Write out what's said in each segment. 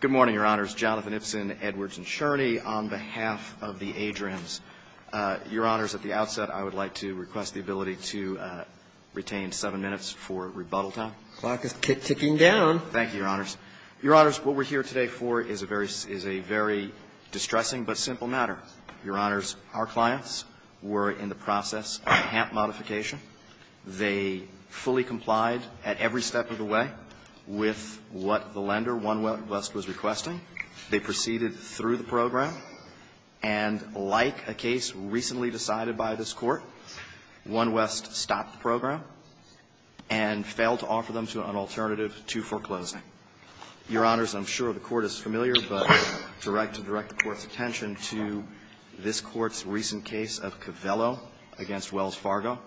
Good morning, Your Honors. Jonathan Ibsen, Edwards & Scherney, on behalf of the Adrians. Your Honors, at the outset, I would like to request the ability to retain seven minutes for rebuttal time. The clock is ticking down. Thank you, Your Honors. Your Honors, what we're here today for is a very distressing but simple matter. Your Honors, our clients were in the process of a HAMP modification. They fully complied at every step of the way with what the lender, One West, was requesting. They proceeded through the program, and like a case recently decided by this Court, One West stopped the program and failed to offer them an alternative to foreclosing. Your Honors, I'm sure the Court is familiar, but I would like to direct the Court's attention to this Court's recent case of Covello v. Wells Fargo.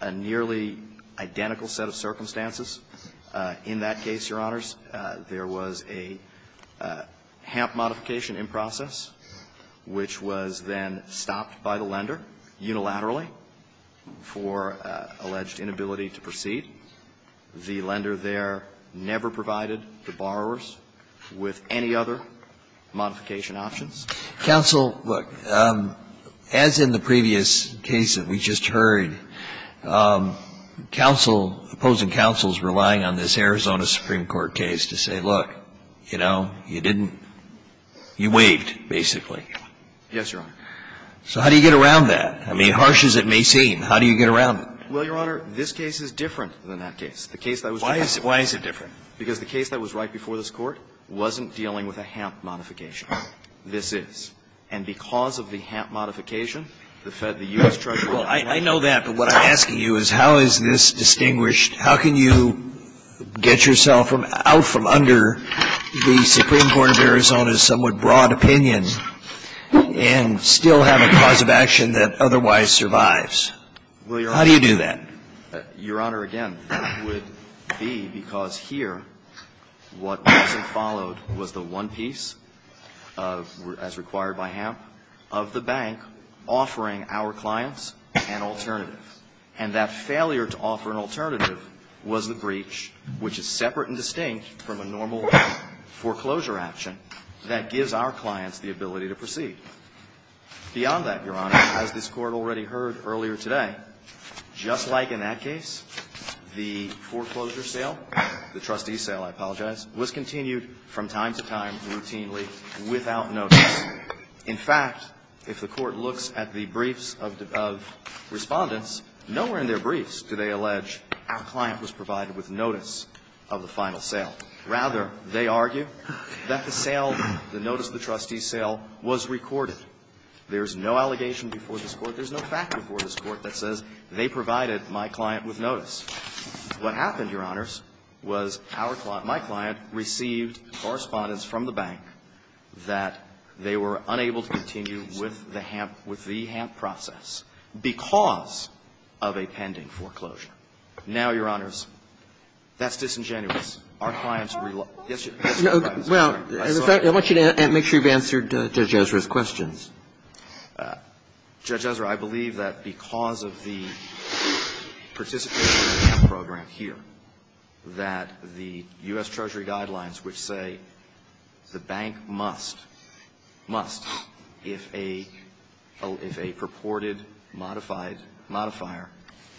A nearly identical set of circumstances. In that case, Your Honors, there was a HAMP modification in process, which was then stopped by the lender unilaterally for alleged inability to proceed. The lender there never provided the borrowers with any other modification options. Counsel, look, as in the previous case that we just heard, counsel, opposing counsels relying on this Arizona Supreme Court case to say, look, you know, you didn't you waived, basically. Yes, Your Honor. So how do you get around that? I mean, harsh as it may seem, how do you get around it? Well, Your Honor, this case is different than that case. The case that was right before this Court wasn't dealing with a HAMP modification. This is. And because of the HAMP modification, the Fed, the U.S. Treasury, and the lender Well, I know that, but what I'm asking you is how is this distinguished How can you get yourself out from under the Supreme Court of Arizona's somewhat broad opinion and still have a cause of action that otherwise survives? How do you do that? Well, Your Honor, Your Honor, again, it would be because here what wasn't followed was the one piece of, as required by HAMP, of the bank offering our clients an alternative. And that failure to offer an alternative was the breach, which is separate and distinct from a normal foreclosure action that gives our clients the ability to proceed. Beyond that, Your Honor, as this Court already heard earlier today, just like in that case, our client was provided, time to time, routinely, without notice. In fact, if the Court looks at the briefs of Respondents, nowhere in their briefs do they allege our client was provided with notice of the final sale. Rather, they argue that the sale, the notice of the trustee sale, was recorded. There's no allegation before this Court, there's no fact before this Court that says they provided my client with notice. What happened, Your Honors, was our client, my client, received Correspondence from the bank that they were unable to continue with the HAMP, with the HAMP process because of a pending foreclosure. Now, Your Honors, that's disingenuous. Our clients rely Yes, Your Honor, I'm sorry. I want you to make sure you've answered Judge Ezra's questions. Judge Ezra, I believe that because of the participation of the HAMP program here, that the U.S. Treasury guidelines which say the bank must, must, if a purported modified modifier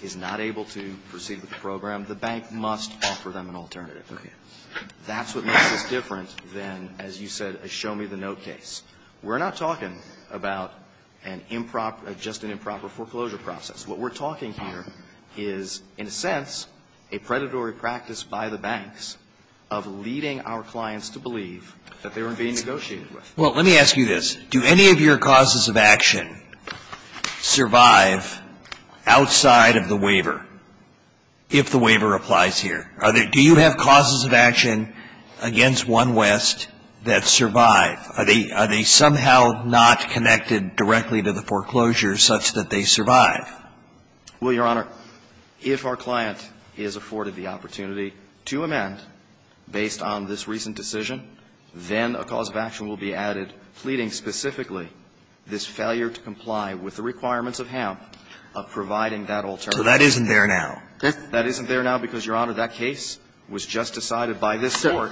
is not able to proceed with the program, the bank must offer them an alternative. That's what makes this different than, as you said, a show-me-the-note case. We're not talking about an improper, just an improper foreclosure process. What we're talking here is, in a sense, a predatory practice by the banks of leading our clients to believe that they were being negotiated with. Well, let me ask you this. Do any of your causes of action survive outside of the waiver, if the waiver applies here? Do you have causes of action against OneWest that survive? Are they somehow not connected directly to the foreclosure such that they survive? Well, Your Honor, if our client is afforded the opportunity to amend based on this recent decision, then a cause of action will be added pleading specifically this failure to comply with the requirements of HAMP of providing that alternative. So that isn't there now? That isn't there now because, Your Honor, that case was just decided by this Court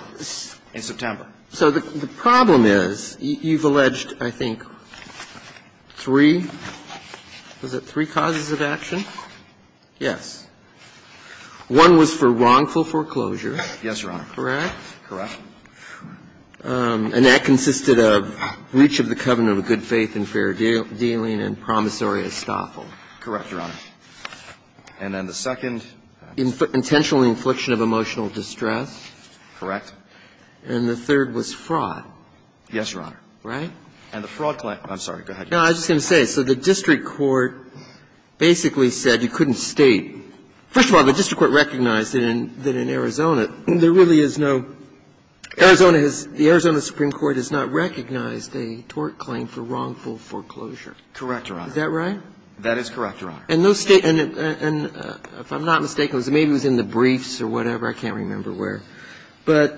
in September. So the problem is, you've alleged, I think, three, was it three causes of action? Yes. One was for wrongful foreclosure. Yes, Your Honor. Correct? Correct. And that consisted of breach of the covenant of good faith and fair dealing and promissory estoffel. Correct, Your Honor. And then the second? Intentional infliction of emotional distress. Correct. And the third was fraud. Yes, Your Honor. Right? And the fraud claim – I'm sorry. Go ahead. No, I was just going to say, so the district court basically said you couldn't state – first of all, the district court recognized that in Arizona, there really is no – Arizona has – the Arizona Supreme Court has not recognized a tort claim for wrongful foreclosure. Correct, Your Honor. Is that right? That is correct, Your Honor. And no state – and if I'm not mistaken, maybe it was in the briefs or whatever. I can't remember where. But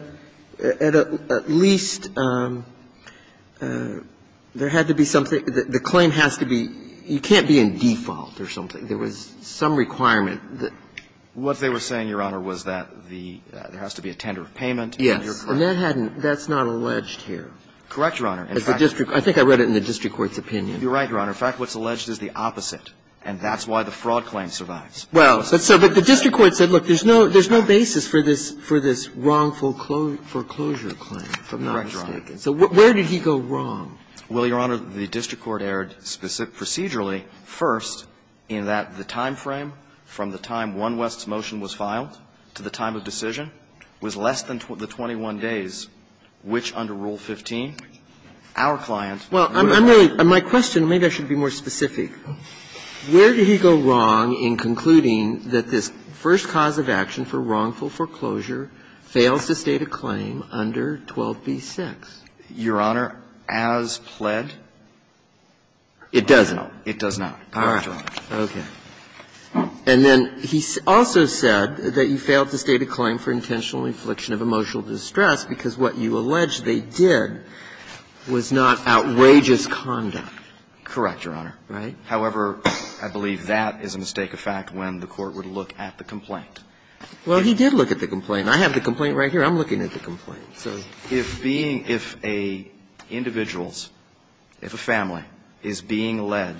at least there had to be something – the claim has to be – you can't be in default or something. There was some requirement that – What they were saying, Your Honor, was that the – there has to be a tender of payment and you're correct. Yes. And that hadn't – that's not alleged here. Correct, Your Honor. In fact, the district – I think I read it in the district court's opinion. You're right, Your Honor. In fact, what's alleged is the opposite, and that's why the fraud claim survives. Well, but the district court said, look, there's no – there's no basis for this – for this wrongful foreclosure claim, if I'm not mistaken. So where did he go wrong? Well, Your Honor, the district court erred procedurally first in that the timeframe from the time one West's motion was filed to the time of decision was less than the 21 days, which under Rule 15, our client would have been. Well, I'm really – my question, maybe I should be more specific. Where did he go wrong in concluding that this first cause of action for wrongful foreclosure fails to state a claim under 12b-6? Your Honor, as pled? It doesn't. It does not. All right. Okay. And then he also said that you failed to state a claim for intentional infliction of emotional distress because what you allege they did was not outrageous conduct. Correct, Your Honor. Right? Well, he did look at the complaint. I have the complaint right here. I'm looking at the complaint. So if being – if a individual's – if a family is being led,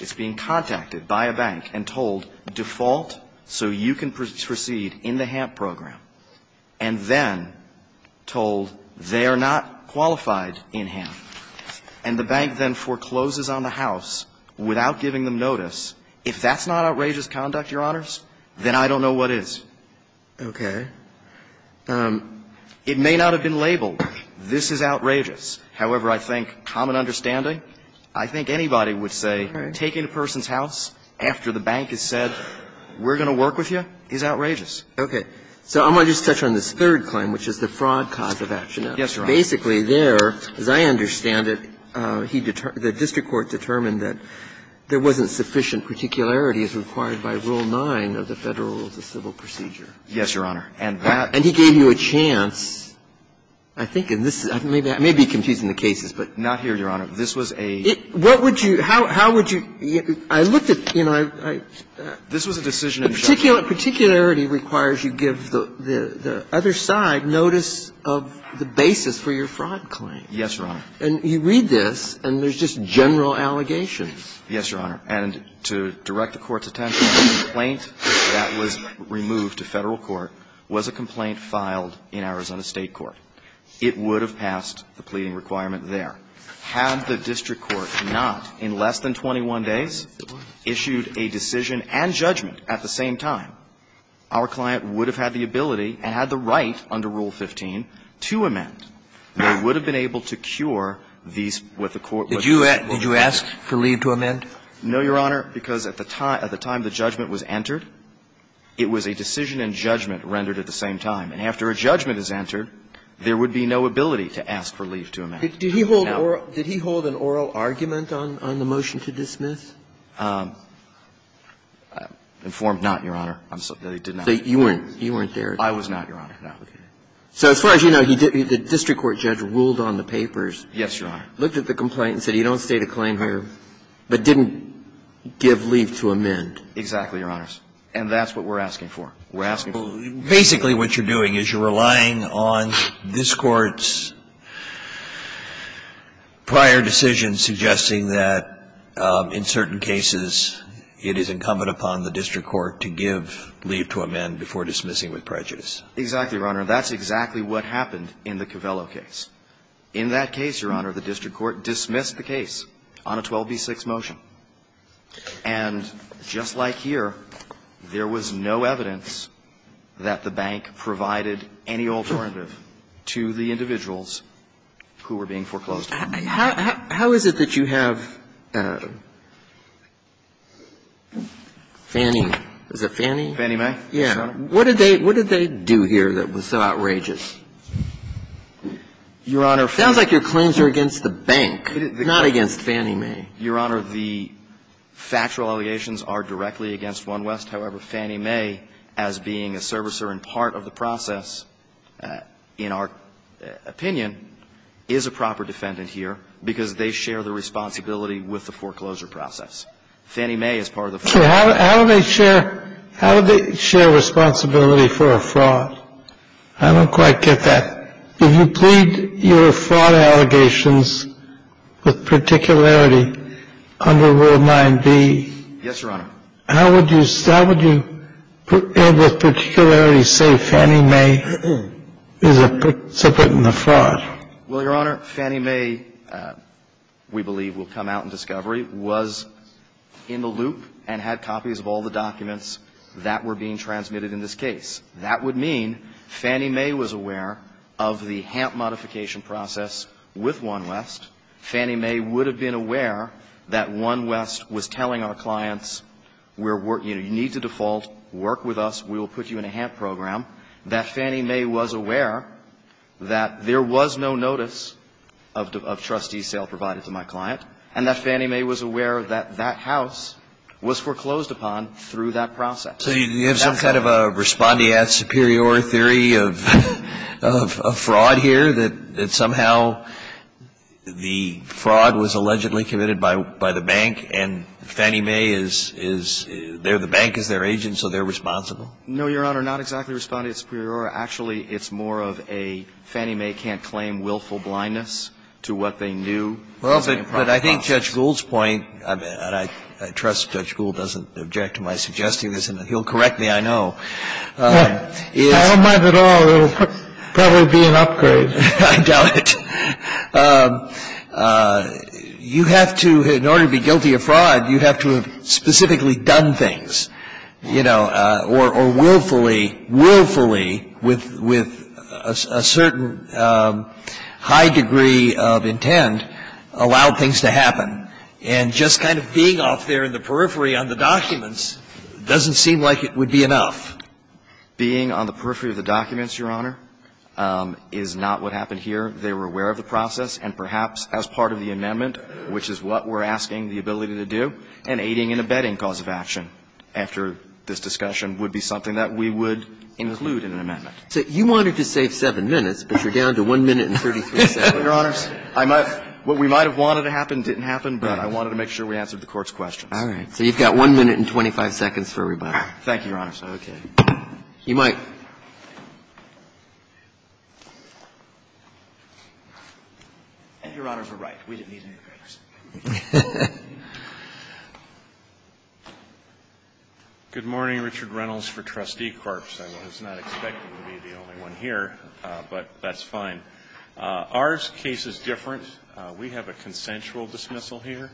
is being contacted by a bank and told, default so you can proceed in the HAMP program, and then told they are not qualified in HAMP, and the bank then forecloses on the house without giving them notice, if that's not outrageous conduct, Your Honors, then I don't know what is. Okay. It may not have been labeled, this is outrageous. However, I think common understanding, I think anybody would say taking a person's house after the bank has said we're going to work with you is outrageous. Okay. So I'm going to just touch on this third claim, which is the fraud cause of action. Yes, Your Honor. Basically, there, as I understand it, he – the district court determined that there wasn't sufficient particularity as required by Rule 9 of the Federal Rules of Civil Procedure. Yes, Your Honor. And that – And he gave you a chance, I think in this – I may be confusing the cases, but – Not here, Your Honor. This was a – What would you – how would you – I looked at – you know, I – This was a decision of the judge. Particularity requires you give the other side notice of the basis for your fraud claim. Yes, Your Honor. And you read this, and there's just general allegations. Yes, Your Honor. And to direct the Court's attention, the complaint that was removed to Federal court was a complaint filed in Arizona State court. It would have passed the pleading requirement there. Had the district court not, in less than 21 days, issued a decision and judgment at the same time, our client would have had the ability and had the right under Rule 15 to amend. They would have been able to cure these – what the court would have been able to cure. Did you ask for leave to amend? No, Your Honor, because at the time – at the time the judgment was entered, it was a decision and judgment rendered at the same time. And after a judgment is entered, there would be no ability to ask for leave to amend. Did he hold oral – did he hold an oral argument on the motion to dismiss? Informed not, Your Honor. I'm sorry. He did not. You weren't there. I was not, Your Honor. So as far as you know, he did – the district court judge ruled on the papers. Yes, Your Honor. Looked at the complaint and said he don't state a claim here, but didn't give leave to amend. Exactly, Your Honors. And that's what we're asking for. We're asking for leave to amend. Basically, what you're doing is you're relying on this Court's prior decision suggesting that in certain cases it is incumbent upon the district court to give leave to amend before dismissing with prejudice. Exactly, Your Honor. That's exactly what happened in the Covello case. In that case, Your Honor, the district court dismissed the case on a 12b-6 motion. And just like here, there was no evidence that the bank provided any alternative to the individuals who were being foreclosed on. How is it that you have Fannie – is it Fannie? Fannie Mae? Yes. Your Honor, what did they do here that was so outrageous? Your Honor, Fannie – It sounds like your claims are against the bank, not against Fannie Mae. Your Honor, the factual allegations are directly against OneWest. However, Fannie Mae, as being a servicer and part of the process, in our opinion, is a proper defendant here, because they share the responsibility with the foreclosure Fannie Mae is part of the foreclosure process. So how do they share responsibility for a fraud? I don't quite get that. If you plead your fraud allegations with particularity under Rule 9b, how would you put in the particularity, say, Fannie Mae is a participant in the fraud? Well, Your Honor, Fannie Mae, we believe will come out in discovery, was in the loop and had copies of all the documents that were being transmitted in this case. That would mean Fannie Mae was aware of the HAMP modification process with OneWest. Fannie Mae would have been aware that OneWest was telling our clients, we're working – you need to default, work with us, we will put you in a HAMP program. That Fannie Mae was aware that there was no notice of trustee sale provided to my client. And that Fannie Mae was aware that that house was foreclosed upon through that process. So you have some kind of a respondeat superior theory of fraud here, that somehow the fraud was allegedly committed by the bank and Fannie Mae is – the bank is their agent, so they're responsible? No, Your Honor, not exactly respondeat superior. Actually, it's more of a Fannie Mae can't claim willful blindness to what they knew was going to happen. Well, but I think Judge Gould's point, and I trust Judge Gould doesn't object to my suggesting this, and he'll correct me, I know, is – I don't mind at all. It will probably be an upgrade. I doubt it. You have to, in order to be guilty of fraud, you have to have specifically done things, you know, or willfully, willfully, with a certain high degree of intent allow things to happen. And just kind of being off there in the periphery on the documents doesn't seem like it would be enough. Being on the periphery of the documents, Your Honor, is not what happened here. They were aware of the process, and perhaps as part of the amendment, which is what we're asking the ability to do, an aiding and abetting cause of action after this discussion would be something that we would include in an amendment. So you wanted to save 7 minutes, but you're down to 1 minute and 33 seconds. Your Honors, I might – what we might have wanted to happen didn't happen, but I wanted to make sure we answered the Court's questions. All right. So you've got 1 minute and 25 seconds for rebuttal. Thank you, Your Honors. Okay. You might. Your Honors are right. We didn't need any breaks. Good morning, Richard Reynolds for Trustee Corps. I was not expecting to be the only one here, but that's fine. Our case is different. We have a consensual dismissal here.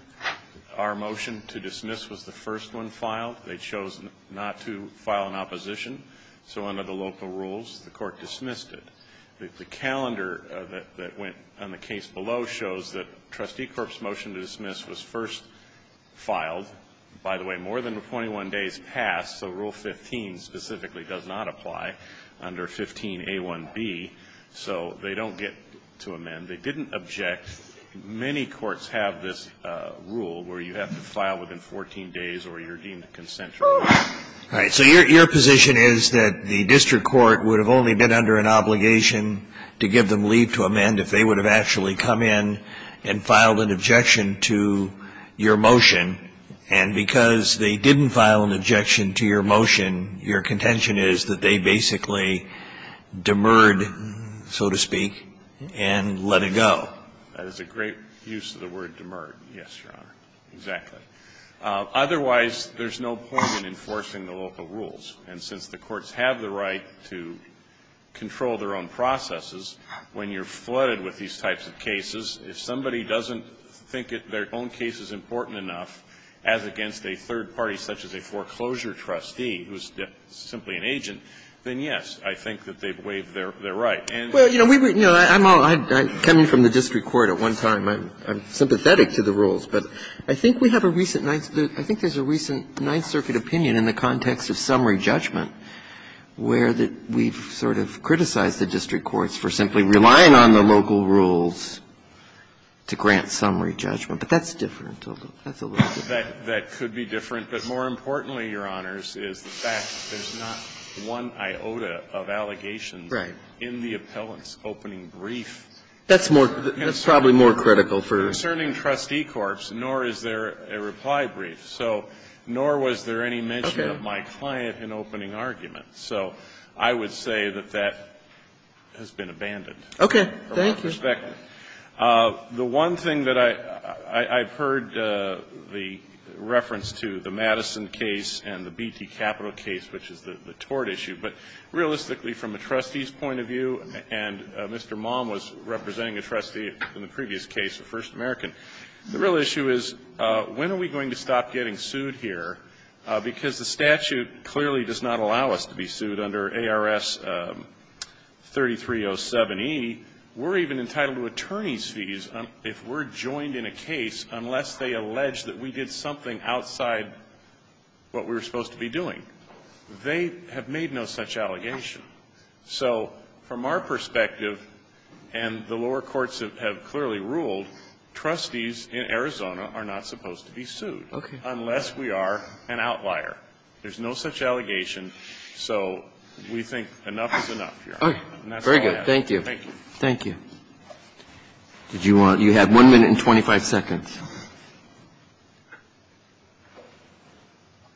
Our motion to dismiss was the first one filed. They chose not to file an opposition, so under the local rules, the Court dismissed it. The calendar that went on the case below shows that Trustee Corps' motion to dismiss was first filed. By the way, more than 21 days passed, so Rule 15 specifically does not apply under 15A1B, so they don't get to amend. They didn't object. Many courts have this rule where you have to file within 14 days or you're deemed consensual. All right. So your position is that the district court would have only been under an obligation to give them leave to amend if they would have actually come in and filed an objection to your motion, and because they didn't file an objection to your motion, your contention is that they basically demurred, so to speak, and let it go. That is a great use of the word demurred. Yes, Your Honor. Exactly. Otherwise, there's no point in enforcing the local rules, and since the courts have the right to control their own processes, when you're flooded with these types of cases, if somebody doesn't think their own case is important enough, as against a third party such as a foreclosure trustee who's simply an agent, then, yes, I think that they've waived their right. Well, you know, we were – you know, I'm all – I'm coming from the district court at one time. I'm sympathetic to the rules, but I think we have a recent – I think there's a recent Ninth Circuit opinion in the context of summary judgment where we've sort of criticized the district courts for simply relying on the local rules to grant summary judgment, but that's different. That's a little different. That could be different. But more importantly, Your Honors, is the fact that there's not one iota of allegations in the appellant's opening brief. That's more – that's probably more critical for the court. Concerning trustee corps, nor is there a reply brief, so – nor was there any mention of my client in opening argument. So I would say that that has been abandoned. Okay. Thank you. Mr. Speck, the one thing that I – I've heard the reference to the Madison case and the BT Capital case, which is the tort issue, but realistically, from a trustee's point of view, and Mr. Maum was representing a trustee in the previous case, a First American, the real issue is, when are we going to stop getting sued here, because the statute clearly does not allow us to be sued under ARS 3307e, we're even entitled to attorney's fees if we're joined in a case unless they allege that we did something outside what we were supposed to be doing. They have made no such allegation. So from our perspective, and the lower courts have clearly ruled, trustees in Arizona are not supposed to be sued unless we are an outlier. There's no such allegation. So we think enough is enough, Your Honor. Okay. Very good. Thank you. Thank you. Did you want – you have 1 minute and 25 seconds.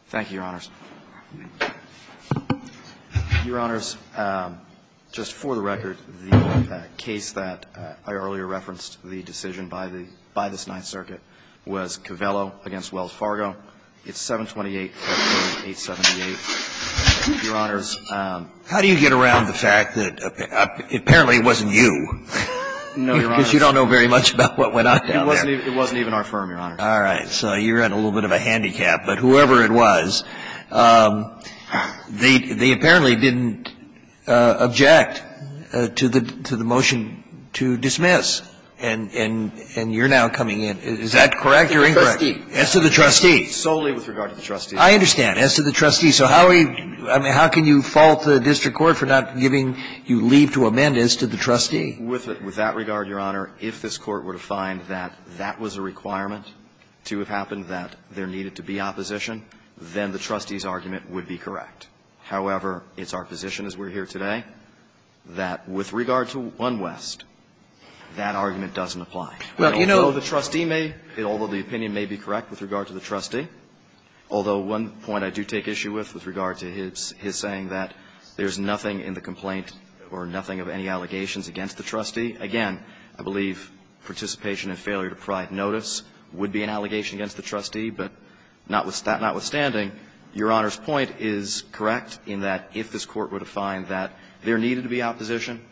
Thank you, Your Honors. Your Honors, just for the record, the case that I earlier referenced, the decision by the – by this Ninth Circuit, was Covello v. Wells Fargo. It's 728.878. Your Honors, how do you get around the fact that apparently it wasn't you? No, Your Honors. Because you don't know very much about what went on down there. It wasn't even our firm, Your Honor. All right. So you're in a little bit of a handicap. But whoever it was, they apparently didn't object to the motion to dismiss. And you're now coming in. Is that correct or incorrect? As to the trustee. Solely with regard to the trustee. I understand. As to the trustee. So how can you fault the district court for not giving you leave to amend as to the trustee? With that regard, Your Honor, if this Court were to find that that was a requirement to have happened, that there needed to be opposition, then the trustee's argument would be correct. However, it's our position as we're here today that with regard to One West, that argument doesn't apply. Although the trustee may – although the opinion may be correct with regard to the with regard to his saying that there's nothing in the complaint or nothing of any allegations against the trustee. Again, I believe participation in failure to provide notice would be an allegation against the trustee. But notwithstanding, Your Honor's point is correct in that if this Court were to find that there needed to be opposition,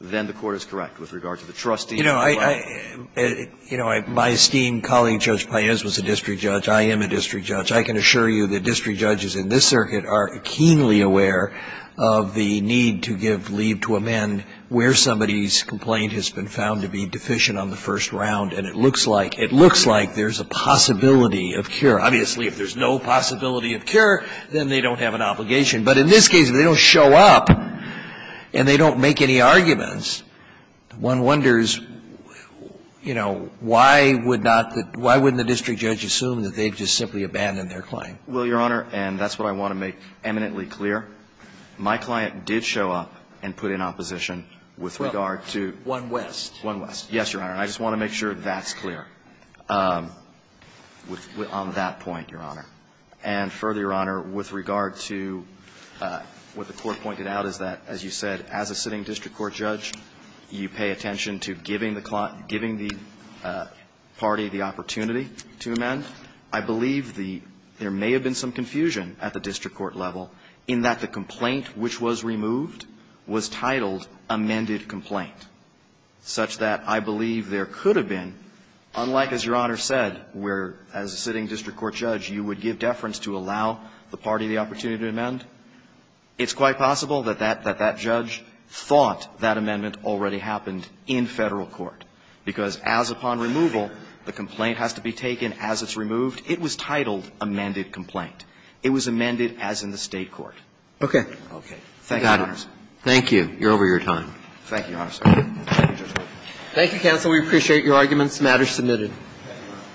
then the Court is correct with regard to the trustee. You know, I – you know, my esteemed colleague, Judge Paez, was a district judge. I am a district judge. I can assure you that district judges in this circuit are keenly aware of the need to give leave to amend where somebody's complaint has been found to be deficient on the first round. And it looks like – it looks like there's a possibility of cure. Obviously, if there's no possibility of cure, then they don't have an obligation. But in this case, if they don't show up and they don't make any arguments, one wonders, you know, why would not the – why wouldn't the district judge assume that they've just simply abandoned their claim? Well, Your Honor, and that's what I want to make eminently clear, my client did show up and put in opposition with regard to one west. One west. Yes, Your Honor. I just want to make sure that's clear on that point, Your Honor. And further, Your Honor, with regard to what the Court pointed out is that, as you said, as a sitting district court judge, you pay attention to giving the party the opportunity to amend. I believe the – there may have been some confusion at the district court level in that the complaint which was removed was titled amended complaint, such that I believe there could have been, unlike as Your Honor said, where, as a sitting district court judge, you would give deference to allow the party the opportunity to amend, it's quite possible that that judge thought that amendment already happened in Federal court, because as upon removal, the complaint has to be taken as it's removed. It was titled amended complaint. It was amended as in the State court. Okay. Thank you, Your Honor. Thank you. You're over your time. Thank you, Your Honor. Thank you, counsel. We appreciate your arguments. The matter is submitted.